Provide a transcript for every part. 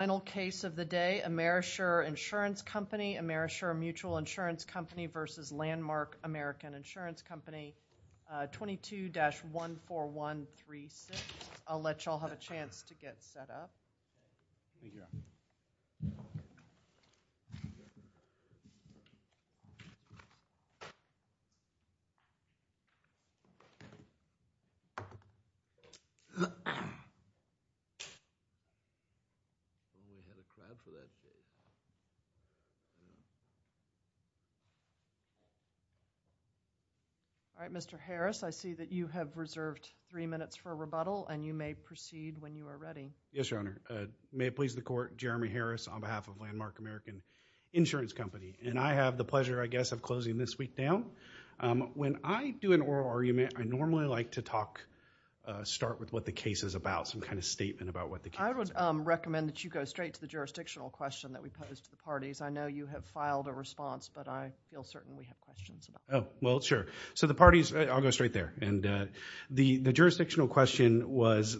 22-14136. I'll let you all have a chance to get set up. All right, Mr. Harris, I see that you have reserved three minutes for a rebuttal and you may proceed when you are ready. Yes, Your Honor. May it please the court, Jeremy Harris on behalf of Landmark American Insurance Company. And I have the pleasure, I guess, of closing this week down. When I do an oral argument, I normally like to talk, start with what the question is, and then I'll go straight to the jurisdictional question that we posed to the parties. I know you have filed a response, but I feel certain we have questions about it. Oh, well, sure. So the parties, I'll go straight there. And the jurisdictional question was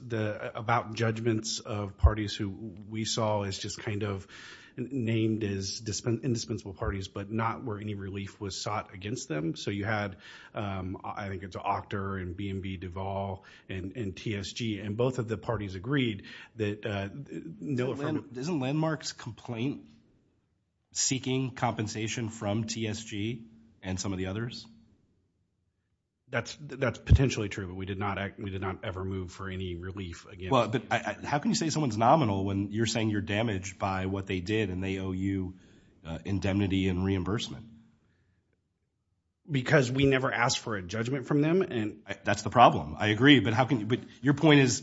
about judgments of parties who we saw as just kind of named as indispensable parties, but not where any relief was sought against them. So you had, I think it's Octor and B&B Duvall and TSG, and both of the parties agreed that... Isn't Landmark's complaint seeking compensation from TSG and some of the others? That's potentially true, but we did not ever move for any relief against them. Well, but how can you say someone's nominal when you're saying you're damaged by what they did and they owe you indemnity and reimbursement? Because we never asked for a judgment from them, and that's the problem. I agree, but your point is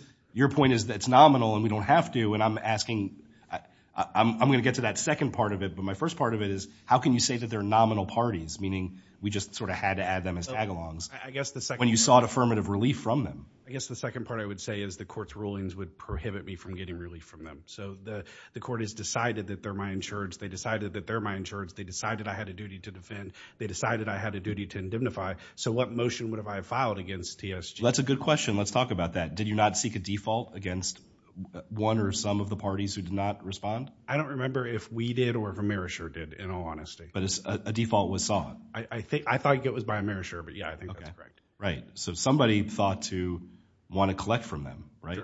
that it's nominal and we don't have to, and I'm going to get to that second part of it, but my first part of it is how can you say that they're nominal parties, meaning we just sort of had to add them as tagalongs when you sought affirmative relief from them? I guess the second part I would say is the court's rulings would prohibit me from getting relief from them. So the court has decided that they're my insurance. They decided that they're my insurance. They decided I had a duty to defend. They decided I had a duty to indemnify. So what motion would have I filed against TSG? That's a good question. Let's talk about that. Did you not seek a default against one or some of the parties who did not respond? I don't remember if we did or if Amerisher did, in all honesty. But a default was sought. I think I thought it was by Amerisher, but yeah, I think that's correct. Right. So somebody thought to want to collect from them, right?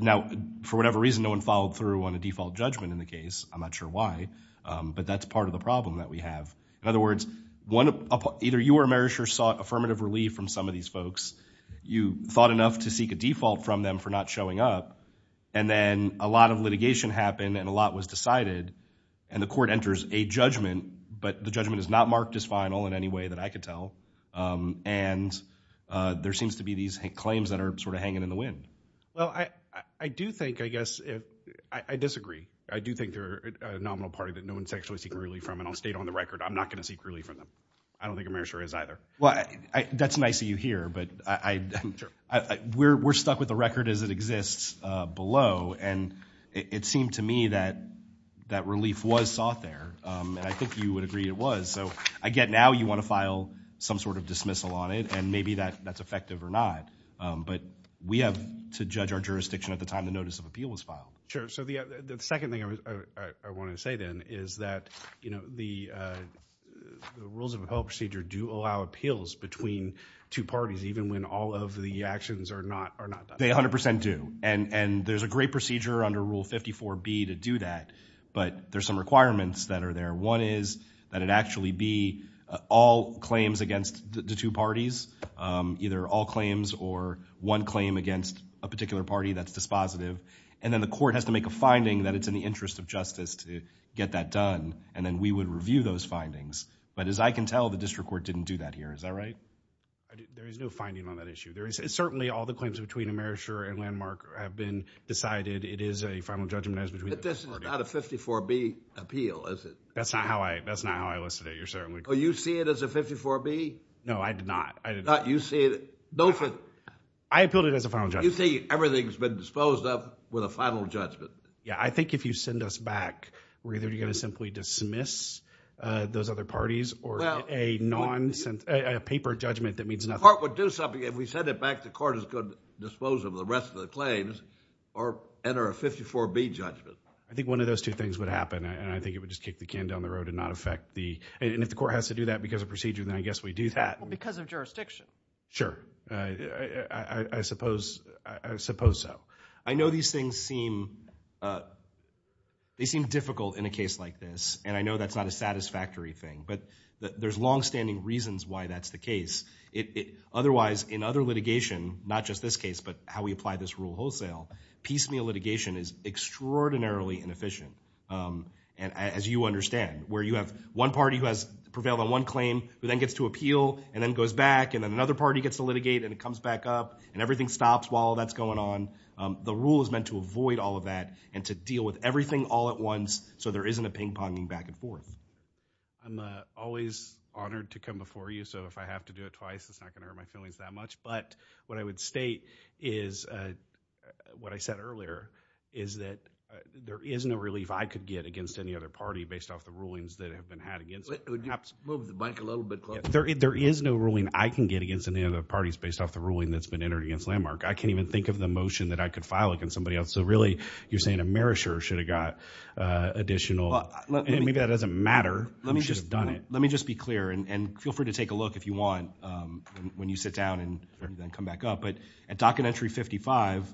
Now, for whatever reason, no one followed through on a default judgment in the case. I'm not sure why, but that's part of the problem that we have. In other words, either you or Amerisher sought affirmative relief from some of these folks. You thought enough to seek a default from them for not showing up. And then a lot of litigation happened and a lot was decided and the court enters a judgment, but the judgment is not marked as final in any way that I could tell. And there seems to be these claims that are sort of hanging in the wind. Well, I do think, I guess, I disagree. I do think they're a nominal party that no one's actually seeking relief from. And I'll state on the record, I'm not going to seek relief from them. I don't think Amerisher is either. Well, that's nice of you here, but we're stuck with the record as it exists below. And it seemed to me that that relief was sought there. And I think you would agree it was. So again, now you want to file some sort of dismissal on it and maybe that's effective or not. But we have to judge our jurisdiction at the time the notice of appeal was filed. Sure. So the second thing I wanted to say then is that the rules of appellate procedure do allow appeals between two parties, even when all of the actions are not done. They 100% do. And there's a great procedure under Rule 54B to do that, but there's some requirements that are there. One is that it actually be all claims against the two parties, either all claims or one claim against a particular party that's dispositive. And then the court has to make a finding that it's in the interest of justice to get that done. And then we would review those findings. But as I can tell, the district court didn't do that here. Is that right? There is no finding on that issue. There is certainly all the claims between Amerisher and Landmark have been decided. It is a final judgment as between the parties. But this is not a 54B appeal, is it? That's not how I, that's not how I listed it. You're certainly. Oh, you see it as a 54B? No, I appealed it as a final judgment. You think everything's been disposed of with a final judgment? Yeah, I think if you send us back, we're either going to simply dismiss those other parties or a non-sense, a paper judgment that means nothing. The court would do something. If we send it back, the court is going to dispose of the rest of the claims or enter a 54B judgment. I think one of those two things would happen. And I think it would just kick the can down the road and not affect the, and if the court has to do that because of I suppose, I suppose so. I know these things seem, they seem difficult in a case like this. And I know that's not a satisfactory thing, but there's longstanding reasons why that's the case. Otherwise, in other litigation, not just this case, but how we apply this rule wholesale, piecemeal litigation is extraordinarily inefficient. And as you understand, where you have one party who has prevailed on one claim, who then gets to appeal and then goes back and then another party gets to litigate and it comes back up and everything stops while that's going on. Um, the rule is meant to avoid all of that and to deal with everything all at once. So there isn't a ping ponging back and forth. I'm always honored to come before you. So if I have to do it twice, it's not going to hurt my feelings that much. But what I would state is, uh, what I said earlier is that there is no relief I could get against any other party based off the rulings that have been had against. Move the mic a little bit closer. There, there is no ruling I can get against any other parties based off the ruling that's been entered against Landmark. I can't even think of the motion that I could file against somebody else. So really you're saying a merisher should have got, uh, additional and maybe that doesn't matter. You should have done it. Let me just be clear and feel free to take a look if you want, um, when you sit down and then come back up. But at docket entry 55,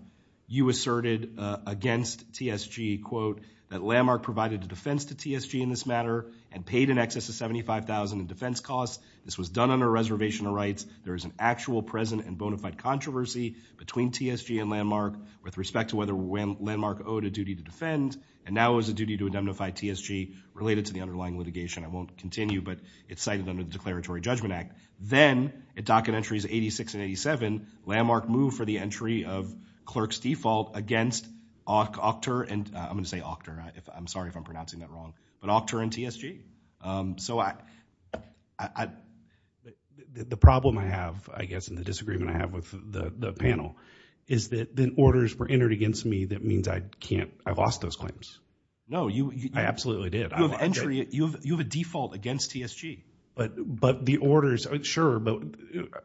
you asserted, uh, against TSG quote that Landmark provided a defense to TSG in this matter and paid in excess of 75,000 in defense costs. This was done under a reservation of rights. There is an actual present and bona fide controversy between TSG and Landmark with respect to whether when Landmark owed a duty to defend and now is a duty to indemnify TSG related to the underlying litigation. I won't continue, but it's cited under the declaratory judgment act. Then at docket entries 86 and 87, Landmark moved for the entry of clerk's default against Octor and I'm going to say Octor. I'm sorry if I'm wrong, but Octor and TSG. Um, so I, I, I, the problem I have, I guess in the disagreement I have with the panel is that the orders were entered against me. That means I can't, I've lost those claims. No, you, I absolutely did. You have entry, you have, you have a default against TSG, but, but the orders, sure. But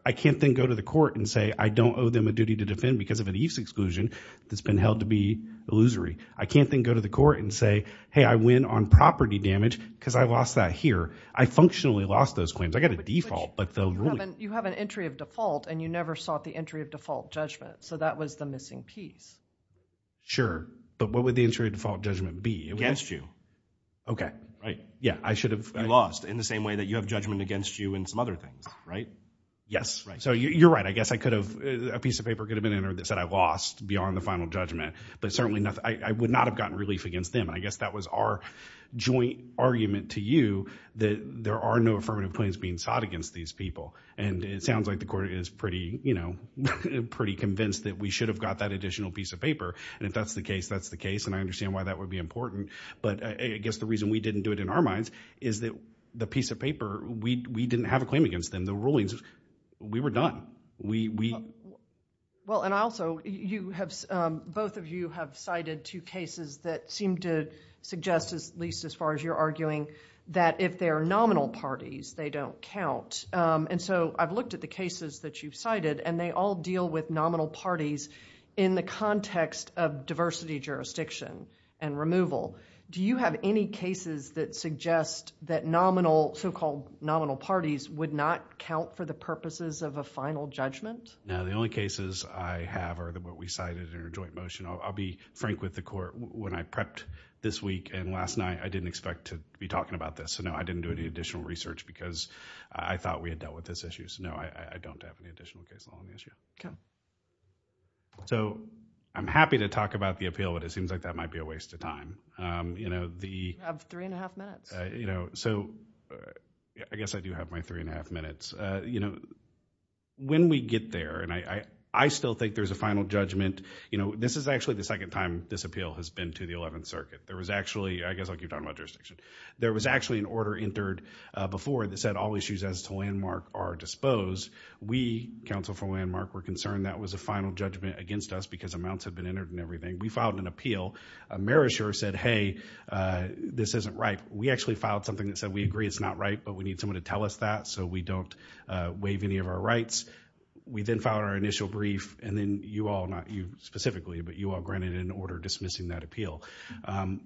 I can't then go to the court and say, I don't owe them a duty to defend because of an exclusion that's been held to be illusory. I can't then go to the court and say, Hey, I win on property damage because I lost that here. I functionally lost those claims. I got a default, but they'll, you have an entry of default and you never sought the entry of default judgment. So that was the missing piece. Sure. But what would the entry default judgment be against you? Okay. Right. Yeah. I should have lost in the same way that you have judgment against you and some other things, right? Yes. So you're right. I guess I could have a piece of paper could have been entered that said I lost beyond the final judgment, but certainly not, I would not have gotten relief against them. And I guess that was our joint argument to you that there are no affirmative claims being sought against these people. And it sounds like the court is pretty, you know, pretty convinced that we should have got that additional piece of paper. And if that's the case, that's the case. And I understand why that would be important. But I guess the reason we didn't do it in our minds is that the piece of paper, we, we didn't have a claim against them. The case, um, both of you have cited two cases that seem to suggest as least as far as you're arguing that if they are nominal parties, they don't count. Um, and so I've looked at the cases that you've cited and they all deal with nominal parties in the context of diversity jurisdiction and removal. Do you have any cases that suggest that nominal so-called nominal parties would not count for the purposes of a final judgment? No, the only cases I have are what we cited in our joint motion. I'll be frank with the court. When I prepped this week and last night, I didn't expect to be talking about this. So no, I didn't do any additional research because I thought we had dealt with this issue. So no, I don't have any additional case law on the issue. Okay. So I'm happy to talk about the appeal, but it seems like that might be a waste of time. Um, you know, the three and a half minutes, you know, so I guess I do have my three and a half minutes, uh, you know, when we get there and I, I, I still think there's a final judgment. You know, this is actually the second time this appeal has been to the 11th circuit. There was actually, I guess I'll keep talking about jurisdiction. There was actually an order entered, uh, before that said all issues as to landmark are disposed. We counsel for landmark were concerned that was a final judgment against us because amounts had been entered and everything. We filed an appeal. Uh, Marisher said, Hey, uh, this isn't right. We actually filed something that said, we agree it's not right, but we need someone to tell us that. So we don't, uh, waive any of our rights. We then filed our initial brief and then you all, not you specifically, but you all granted an order dismissing that appeal. Um,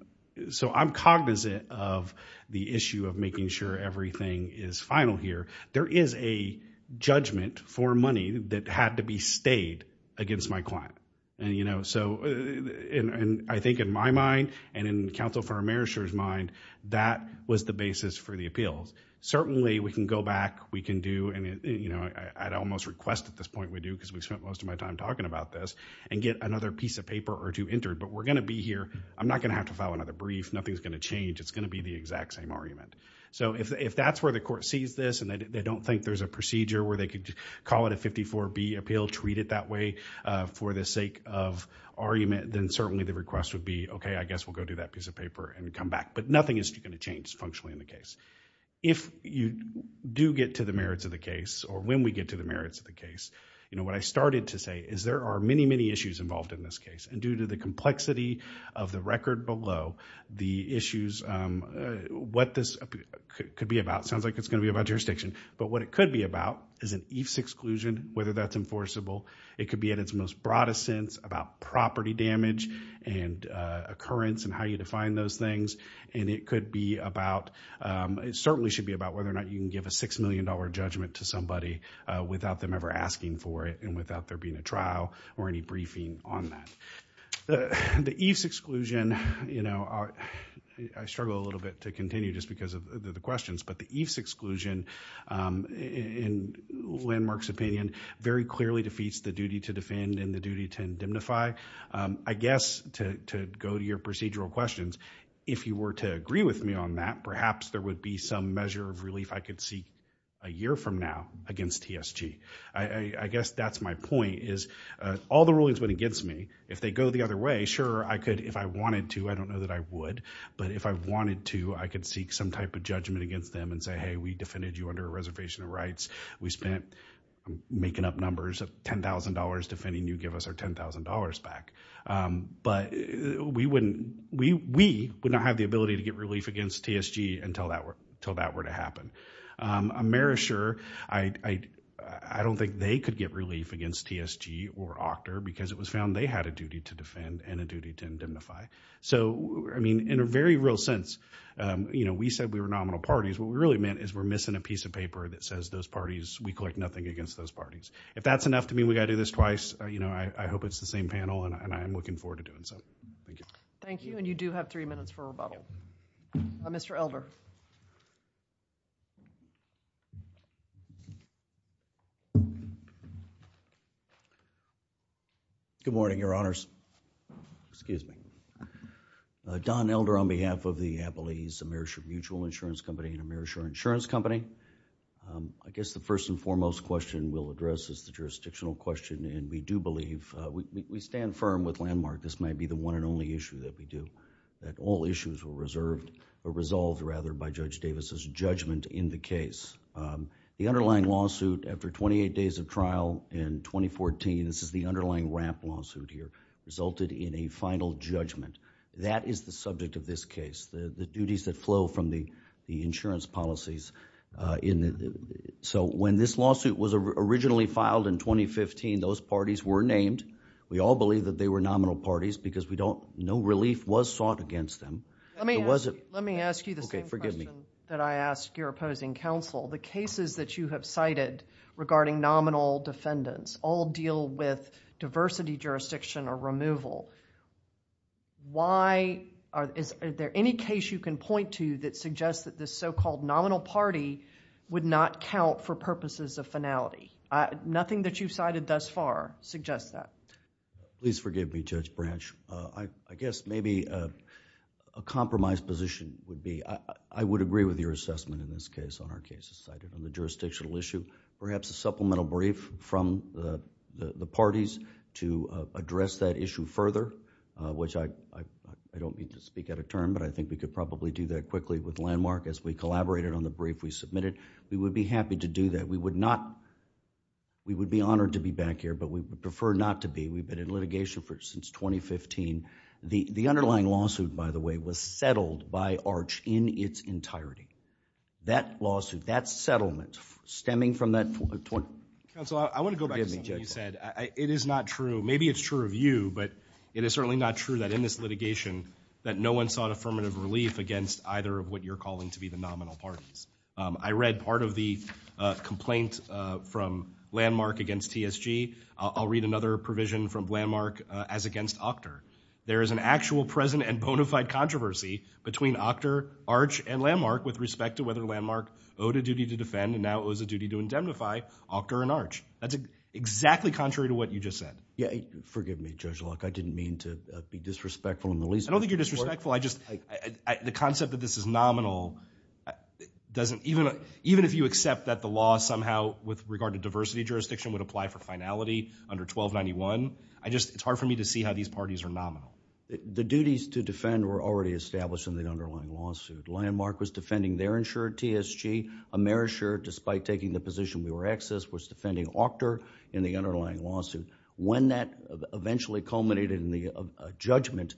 so I'm cognizant of the issue of making sure everything is final here. There is a judgment for money that had to be stayed against my client. And you know, so in, in, I think in my mind and in counsel for our Marishers mind, that was the basis for the appeals. Certainly we can go back, we can do, and you know, I'd almost request at this point we do, cause we've spent most of my time talking about this and get another piece of paper or two entered, but we're going to be here. I'm not going to have to file another brief. Nothing's going to change. It's going to be the exact same argument. So if, if that's where the court sees this and they don't think there's a procedure where they could call it a 54 B appeal, treat it that way, uh, for the sake of argument, then certainly the request would be, okay, I guess we'll go do that piece of paper and come back, but nothing is going to change functionally in the case. If you do get to the merits of the case or when we get to the merits of the case, you know, what I started to say is there are many, many issues involved in this case. And due to the complexity of the record below the issues, um, what this could be about, it sounds like it's going to be about jurisdiction, but what it could be about is an EIFS exclusion, whether that's enforceable, it could be at its most broadest sense about property damage and, uh, occurrence and how you define those things. And it could be about, um, it certainly should be about whether or not you can give a $6 million judgment to somebody, uh, without them ever asking for it and without there being a trial or any briefing on that. The EIFS exclusion, you know, I struggle a little bit to continue just because of the questions, but the EIFS exclusion, um, in Landmark's opinion very clearly defeats the duty to defend and the duty to indemnify. Um, I guess to, to go to your procedural questions, if you were to agree with me on that, perhaps there would be some measure of relief I could see a year from now against TSG. I, I guess that's my point is, uh, all the rulings went against me. If they go the other way, sure I could, if I wanted to, I don't know that I would, but if I wanted to, I could seek some type of judgment against them and say, Hey, we defended you under a reservation of rights. We spent, I'm making up numbers of $10,000 defending you give us our $10,000 back. Um, but we wouldn't, we, we would not have the ability to get relief against TSG until that were, until that were to happen. Um, I'm very sure I, I, I don't think they could get relief against TSG or Octor because it was found they had a duty to defend and a duty to indemnify. So I mean, in a very real sense, um, you know, we said we were nominal parties. What we really meant is we're missing a piece of paper that says those parties, we collect nothing against those parties. If that's enough to me, we got to do this twice. Uh, you know, I, I hope it's the same panel and I, and I'm looking forward to doing so. Thank you. Thank you. And you do have three minutes for rebuttal. Mr. Elder. Good morning, your honors. Excuse me. Don Elder on behalf of the Appalachian Mutual Insurance Company and AmeriShore Insurance Company. Um, I guess the first and foremost question we'll address is the jurisdictional question and we do believe, uh, we, we stand firm with Landmark. This might be the one and only issue that we do, that all issues were reserved or resolved rather by Judge Davis's judgment in the case. Um, the underlying lawsuit after twenty-eight days of trial in 2014, this is the underlying ramp lawsuit here, resulted in a final judgment. That is the subject of this case. The, the duties that flow from the, the insurance policies, uh, in the, so when this lawsuit was originally filed in 2015, those parties were named. We all believe that they were nominal parties because we don't, no relief was sought against them. Let me ask, let me ask you the same question that I ask your opposing counsel. The cases that you have cited regarding nominal defendants all deal with diversity jurisdiction or removal. Why, are, is, are there any case you can point to that suggests that this so-called nominal party would not count for purposes of finality? Uh, nothing that you've cited thus far suggests that. Please forgive me, Judge Branch. Uh, I, I guess maybe, uh, a compromised position would be, I, I would agree with your assessment in this case on our cases cited on the jurisdictional issue. Perhaps a supplemental brief from the, the, the parties to, uh, address that issue further, uh, which I, I, I don't mean to speak out of turn, but I think we could probably do that quickly with landmark as we collaborated on the brief we submitted. We would be happy to do that. We would not, we would be honored to be back here, but we would prefer not to be. We've been in litigation for, since 2015. The, the underlying lawsuit, by the way, was settled by Arch in its entirety. That lawsuit, that settlement stemming from that 20- Counsel, I, I want to go back to something you said. It is not true. Maybe it's true of you, but it is certainly not true that in this litigation that no one sought affirmative relief against either of what you're calling to be the nominal parties. Um, I read part of the, uh, complaint, uh, from landmark against TSG. I'll, I'll read another provision from controversy between Octor, Arch, and Landmark with respect to whether Landmark owed a duty to defend and now owes a duty to indemnify Octor and Arch. That's exactly contrary to what you just said. Yeah, forgive me, Judge Locke. I didn't mean to be disrespectful in the least. I don't think you're disrespectful. I just, I, I, I, the concept that this is nominal doesn't, even, even if you accept that the law somehow with regard to diversity jurisdiction would apply for finality under 1291, I just, it's hard for me to see how these parties are nominal. The, the duties to defend were already established in the underlying lawsuit. Landmark was defending their insured TSG. Amerishire, despite taking the position we were accessed, was defending Octor in the underlying lawsuit. When that eventually culminated in the, uh, judgment,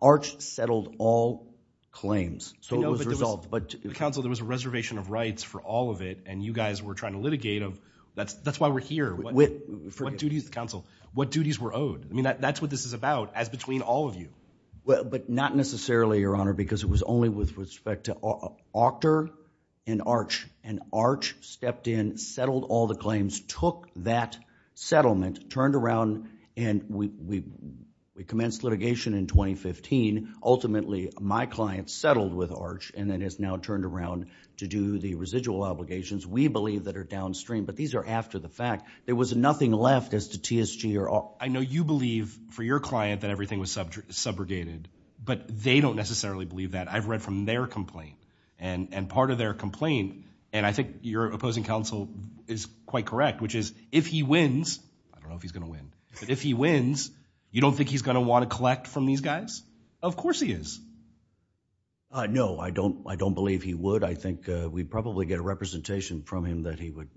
Arch settled all claims. So it was resolved, but... You know, but there was, but counsel, there was a reservation of rights for all of it and you guys were trying to litigate of, that's, that's why we're here. With... What duties, counsel, what duties were owed? I mean, that, that's what this is about as between all of you. Well, but not necessarily, Your Honor, because it was only with respect to Octor and Arch. And Arch stepped in, settled all the claims, took that settlement, turned around and we, we, we commenced litigation in 2015. Ultimately, my client settled with Arch and then has now turned around to do the residual obligations we believe that are downstream. But these are after the fact. There was nothing left as to TSG or... Well, I know you believe for your client that everything was subjugated, but they don't necessarily believe that. I've read from their complaint and, and part of their complaint, and I think your opposing counsel is quite correct, which is if he wins, I don't know if he's going to win, but if he wins, you don't think he's going to want to collect from these guys? Of course he is. Uh, no, I don't, I don't believe he would. I think, uh, we'd probably get a representation from him that he would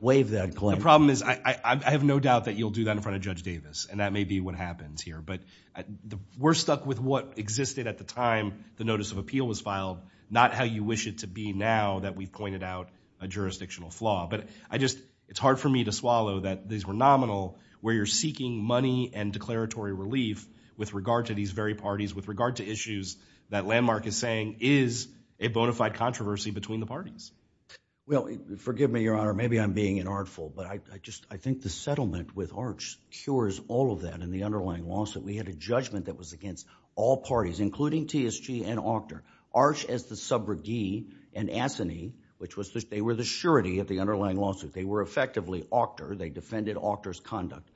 waive that claim. And the problem is, I, I, I have no doubt that you'll do that in front of Judge Davis and that may be what happens here. But we're stuck with what existed at the time the notice of appeal was filed, not how you wish it to be now that we've pointed out a jurisdictional flaw. But I just, it's hard for me to swallow that these were nominal where you're seeking money and declaratory relief with regard to these very parties, with regard to issues that Landmark is saying is a bona fide controversy between the parties. Well, forgive me, Your Honor, maybe I'm being an artful, but I, I just, I think the settlement with Arch cures all of that in the underlying lawsuit. We had a judgment that was against all parties, including TSG and Octor. Arch as the subrogee and Assany, which was the, they were the surety of the underlying lawsuit. They were effectively Octor. They defended Octor's conduct,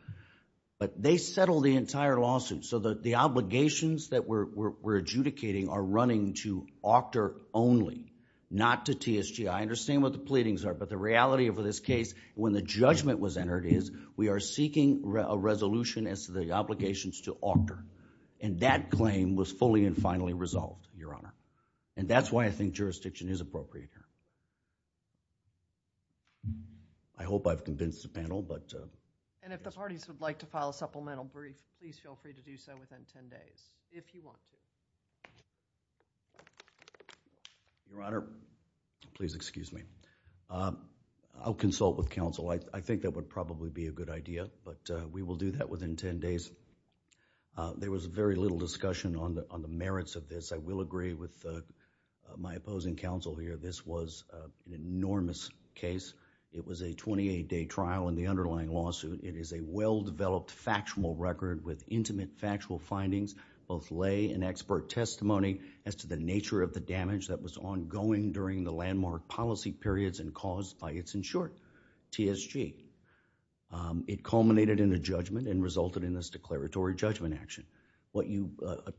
but they settled the entire lawsuit. So the, the obligations that we're, we're adjudicating are running to Octor only, not to TSG. I understand what the pleadings are, but the reality of this case when the judgment was entered is we are seeking a resolution as to the obligations to Octor. And that claim was fully and finally resolved, Your Honor. And that's why I think jurisdiction is appropriate here. I hope I've convinced the panel, but uh. And if the parties would like to file a supplemental brief, please feel free to do so within ten days, if you want to. Your Honor, please excuse me. Uh, I'll consult with counsel. I, I think that would probably be a good idea, but uh, we will do that within ten days. Uh, there was very little discussion on the, on the merits of this. I will agree with uh, my opposing counsel here. This was uh, an enormous case. It was a twenty-eight day trial in the underlying lawsuit. It is a well-developed factual record with intimate factual findings, both lay and expert testimony as to the nature of the damage that was ongoing during the landmark policy periods and caused by its, in short, TSG. Um, it culminated in a judgment and resulted in this declaratory judgment action. What you uh,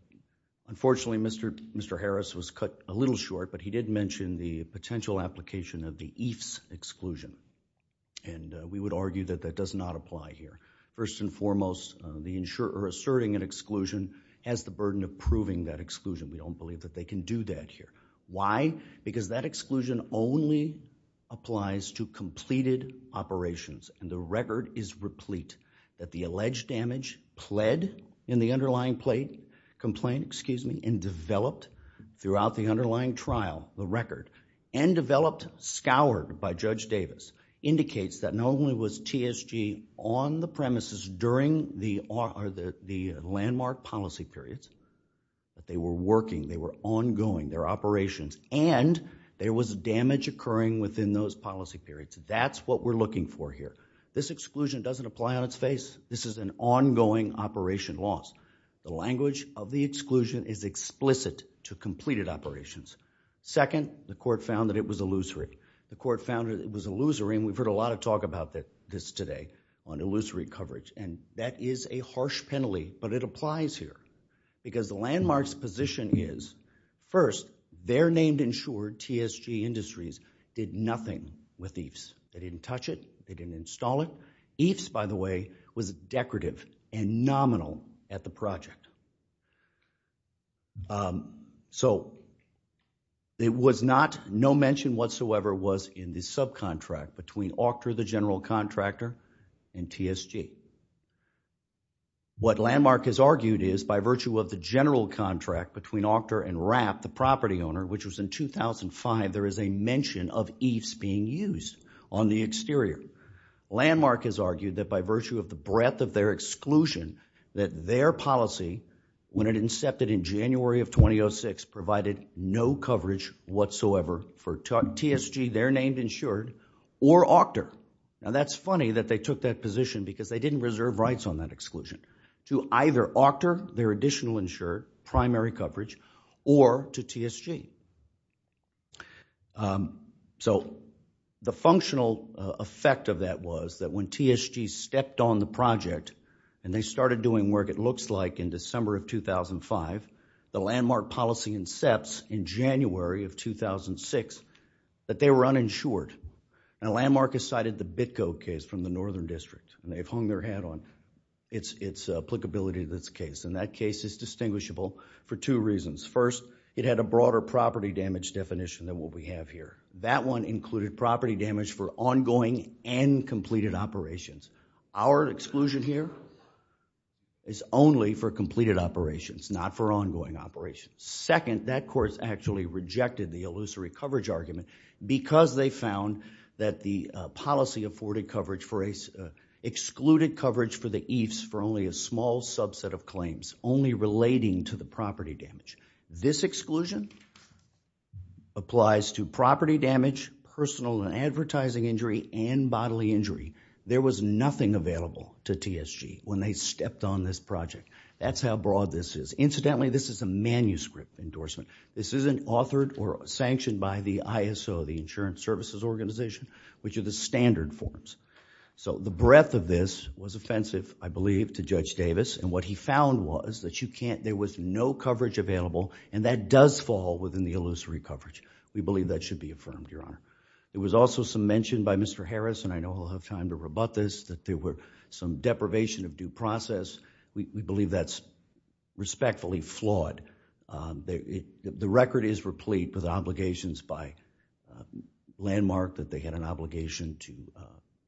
unfortunately Mr., Mr. Harris was cut a little short, but he did mention the potential application of the EIFS exclusion. And uh, we would argue that that does not apply here. First and foremost, uh, the insurer asserting an exclusion has the burden of proving that exclusion. We don't believe that they can do that here. Why? Because that exclusion only applies to completed operations and the record is replete that the alleged damage pled in the underlying plate, complaint, excuse me, and developed throughout the underlying trial, the record, and developed scoured by Judge Davis indicates that not only was TSG on the premises during the, or the, the landmark policy periods, but they were working, they were ongoing, their operations, and there was damage occurring within those policy periods. That's what we're looking for here. This exclusion doesn't apply on its face. This is an ongoing operation loss. The language of the exclusion is explicit to completed operations. Second, the court found that it was illusory. The court found that it was illusory, and we've heard a lot of talk about this today on illusory coverage, and that is a harsh penalty, but it applies here because the landmark's position is, first, their named insured TSG industries did nothing with EIFS. They didn't touch it. They didn't install it. EIFS, by the way, was decorative and nominal at the project. Um, so it was not, no mention whatsoever was in the subcontract between Octor, the general contractor, and TSG. What Landmark has argued is, by virtue of the general contract between Octor and Rapp, the property owner, which was in 2005, there is a mention of EIFS being used on the exterior. Landmark has argued that by virtue of the breadth of their exclusion, that their no mention whatsoever for TSG, their named insured, or Octor. Now that's funny that they took that position because they didn't reserve rights on that exclusion to either Octor, their additional insured, primary coverage, or to TSG. Um, so the functional effect of that was that when TSG stepped on the project and they started doing work, it looks like in December of 2005, the Landmark policy incepts in January of 2006, that they were uninsured. And Landmark has cited the Bitco case from the Northern District, and they've hung their hat on its applicability to this case. And that case is distinguishable for two reasons. First, it had a broader property damage definition than what we have here. That one included property damage for ongoing and completed operations. Our exclusion here is only for completed operations, not for ongoing operations. Second, that court actually rejected the illusory coverage argument because they found that the policy afforded coverage for a, excluded coverage for the EIFS for only a small subset of claims, only relating to the property damage. This exclusion applies to property damage, personal and advertising injury, and bodily injury. There was nothing available to TSG when they stepped on this project. That's how broad this is. Incidentally, this is a manuscript endorsement. This isn't authored or sanctioned by the ISO, the Insurance Services Organization, which are the standard forms. So the breadth of this was offensive, I believe, to Judge Davis. And what he found was that you can't, there was no coverage available, and that does fall within the illusory coverage. We believe that should be affirmed, Your Honor. There was also some mention by Mr. Harris, and I know he'll have time to rebut this, that there were some deprivation of due process. We believe that's respectfully flawed. The record is replete with obligations by landmark that they had an obligation to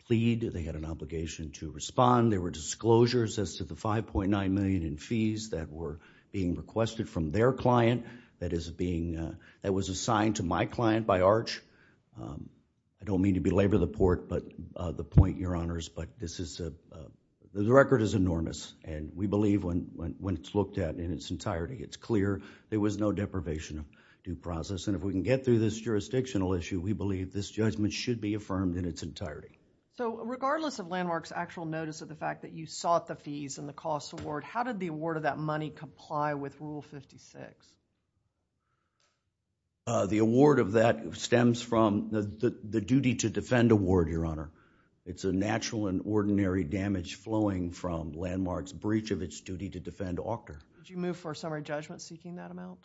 plead, they had an obligation to respond. There were disclosures as to the $5.9 million in fees that were being requested from their client that is being, that was assigned to my client by Arch. I don't mean to belabor the port, but the point, Your Honors, but this is a, the record is enormous, and we believe when it's looked at in its entirety, it's clear there was no deprivation of due process. And if we can get through this jurisdictional issue, we believe this judgment should be affirmed in its entirety. So regardless of Landmark's actual notice of the fact that you sought the fees and the The award of that stems from the duty to defend award, Your Honor. It's a natural and ordinary damage flowing from Landmark's breach of its duty to defend Octor. Did you move for a summary judgment seeking that amount?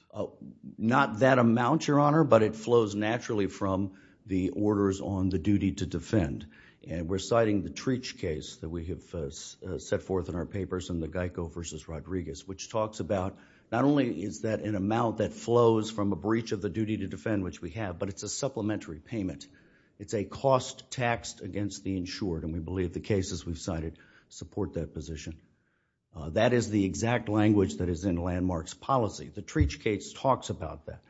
Not that amount, Your Honor, but it flows naturally from the orders on the duty to defend. And we're citing the Treach case that we have set forth in our papers in the Geico v. Rodriguez, which talks about not only is that an amount that flows from a breach of the duty to defend which we have, but it's a supplementary payment. It's a cost taxed against the insured, and we believe the cases we've cited support that position. That is the exact language that is in Landmark's policy. The Treach case talks about that.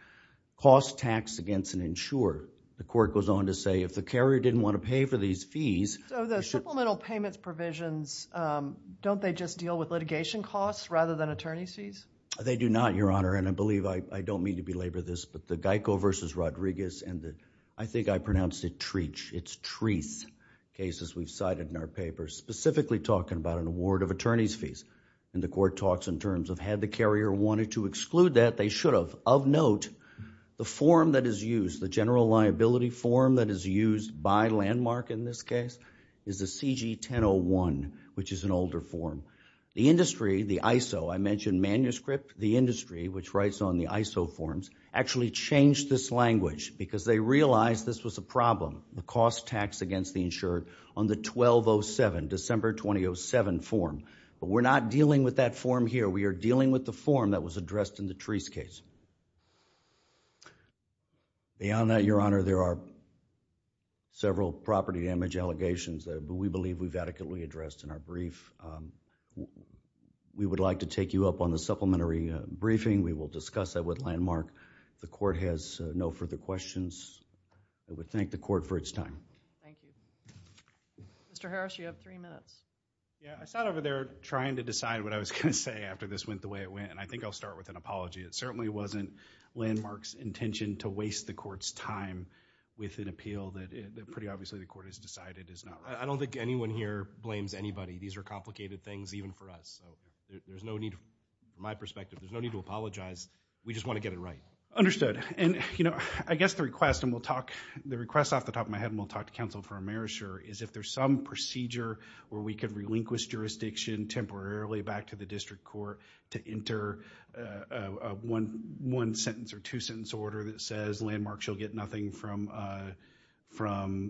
Cost taxed against an insured. The court goes on to say if the carrier didn't want to pay for these fees... So the supplemental payments provisions, don't they just deal with litigation costs rather than attorney's fees? They do not, Your Honor, and I believe, I don't mean to belabor this, but the Geico v. Rodriguez and the, I think I pronounced it Treach, it's Treath cases we've cited in our papers, specifically talking about an award of attorney's fees. And the court talks in terms of had the carrier wanted to exclude that, they should have. Of note, the form that is used, the general liability form that is used by Landmark in this case is the CG-1001, which is an older form. The industry, the ISO, I mentioned manuscript, the industry, which writes on the ISO forms, actually changed this language because they realized this was a problem. The cost taxed against the insured on the 1207, December 2007 form. But we're not dealing with that form here. We are dealing with the form that was addressed in the Treach case. Beyond that, Your Honor, there are several property damage allegations that we believe we've adequately addressed in our brief. We would like to take you up on the supplementary briefing. We will discuss that with Landmark. If the court has no further questions, I would thank the court for its time. Thank you. Mr. Harris, you have three minutes. Yeah, I sat over there trying to decide what I was going to say after this went the way it went, and I think I'll start with an apology. It certainly wasn't Landmark's intention to waste the court's time with an appeal that pretty obviously the court has decided is not right. I don't think anyone here blames anybody. These are complicated things even for us. So, there's no need, from my perspective, there's no need to apologize. We just want to get it right. Understood. And, you know, I guess the request, and we'll talk, the request off the top of my head, and we'll talk to counsel for Amerisher, is if there's some procedure where we could relinquish jurisdiction temporarily back to the district court to enter a one-sentence or two-sentence order that says Landmark shall get nothing from,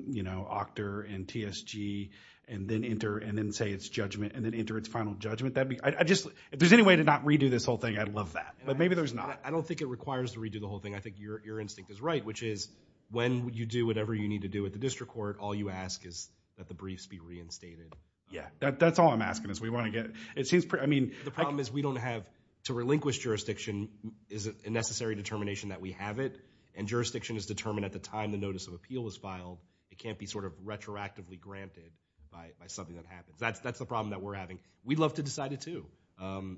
you know, Octor and TSG, and then enter, and then say it's judgment, and then enter its final judgment. I just, if there's any way to not redo this whole thing, I'd love that, but maybe there's not. I don't think it requires to redo the whole thing. I think your instinct is right, which is when you do whatever you need to do at the district court, all you ask is that the briefs be reinstated. Yeah, that's all I'm asking is we want to get, it seems, I mean. The problem is we don't have, to relinquish jurisdiction is a necessary determination that we have it, and jurisdiction is determined at the time the notice of appeal is filed. It can't be sort of retroactively granted by something that happens. That's the problem that we're having. We'd love to decide it too.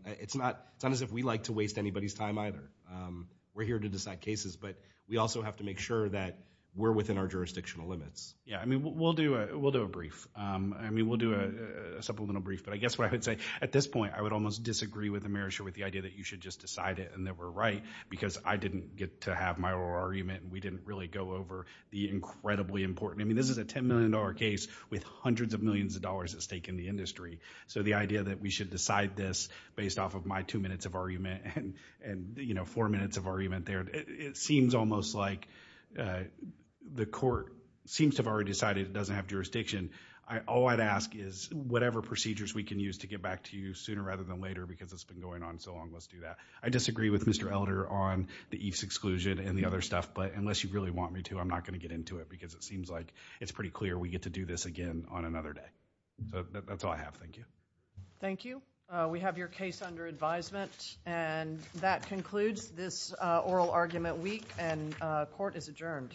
It's not as if we like to waste anybody's time either. We're here to decide cases, but we also have to make sure that we're within our jurisdictional limits. Yeah, I mean, we'll do a brief. I mean, we'll do a supplemental brief, but I guess what I would say, at this point, I would almost disagree with the Mayor's Share with the idea that you should just decide it and that we're right, because I didn't get to have my oral argument. We didn't really go over the incredibly important. I mean, this is a $10 million case with hundreds of millions of dollars at stake in the industry, so the idea that we should decide this based off of my two minutes of argument and four minutes of argument there, it seems almost like the court seems to have already decided it doesn't have jurisdiction. All I'd ask is whatever procedures we can use to get back to you sooner rather than later, because it's been going on so long, let's do that. I disagree with Mr. Elder on the EIFS exclusion and the other stuff, but unless you really want me to, I'm not going to get into it, because it seems like it's pretty clear we get to do this again on another day. So that's all I have. Thank you. Thank you. We have your case under advisement, and that concludes this oral argument week, and court is adjourned.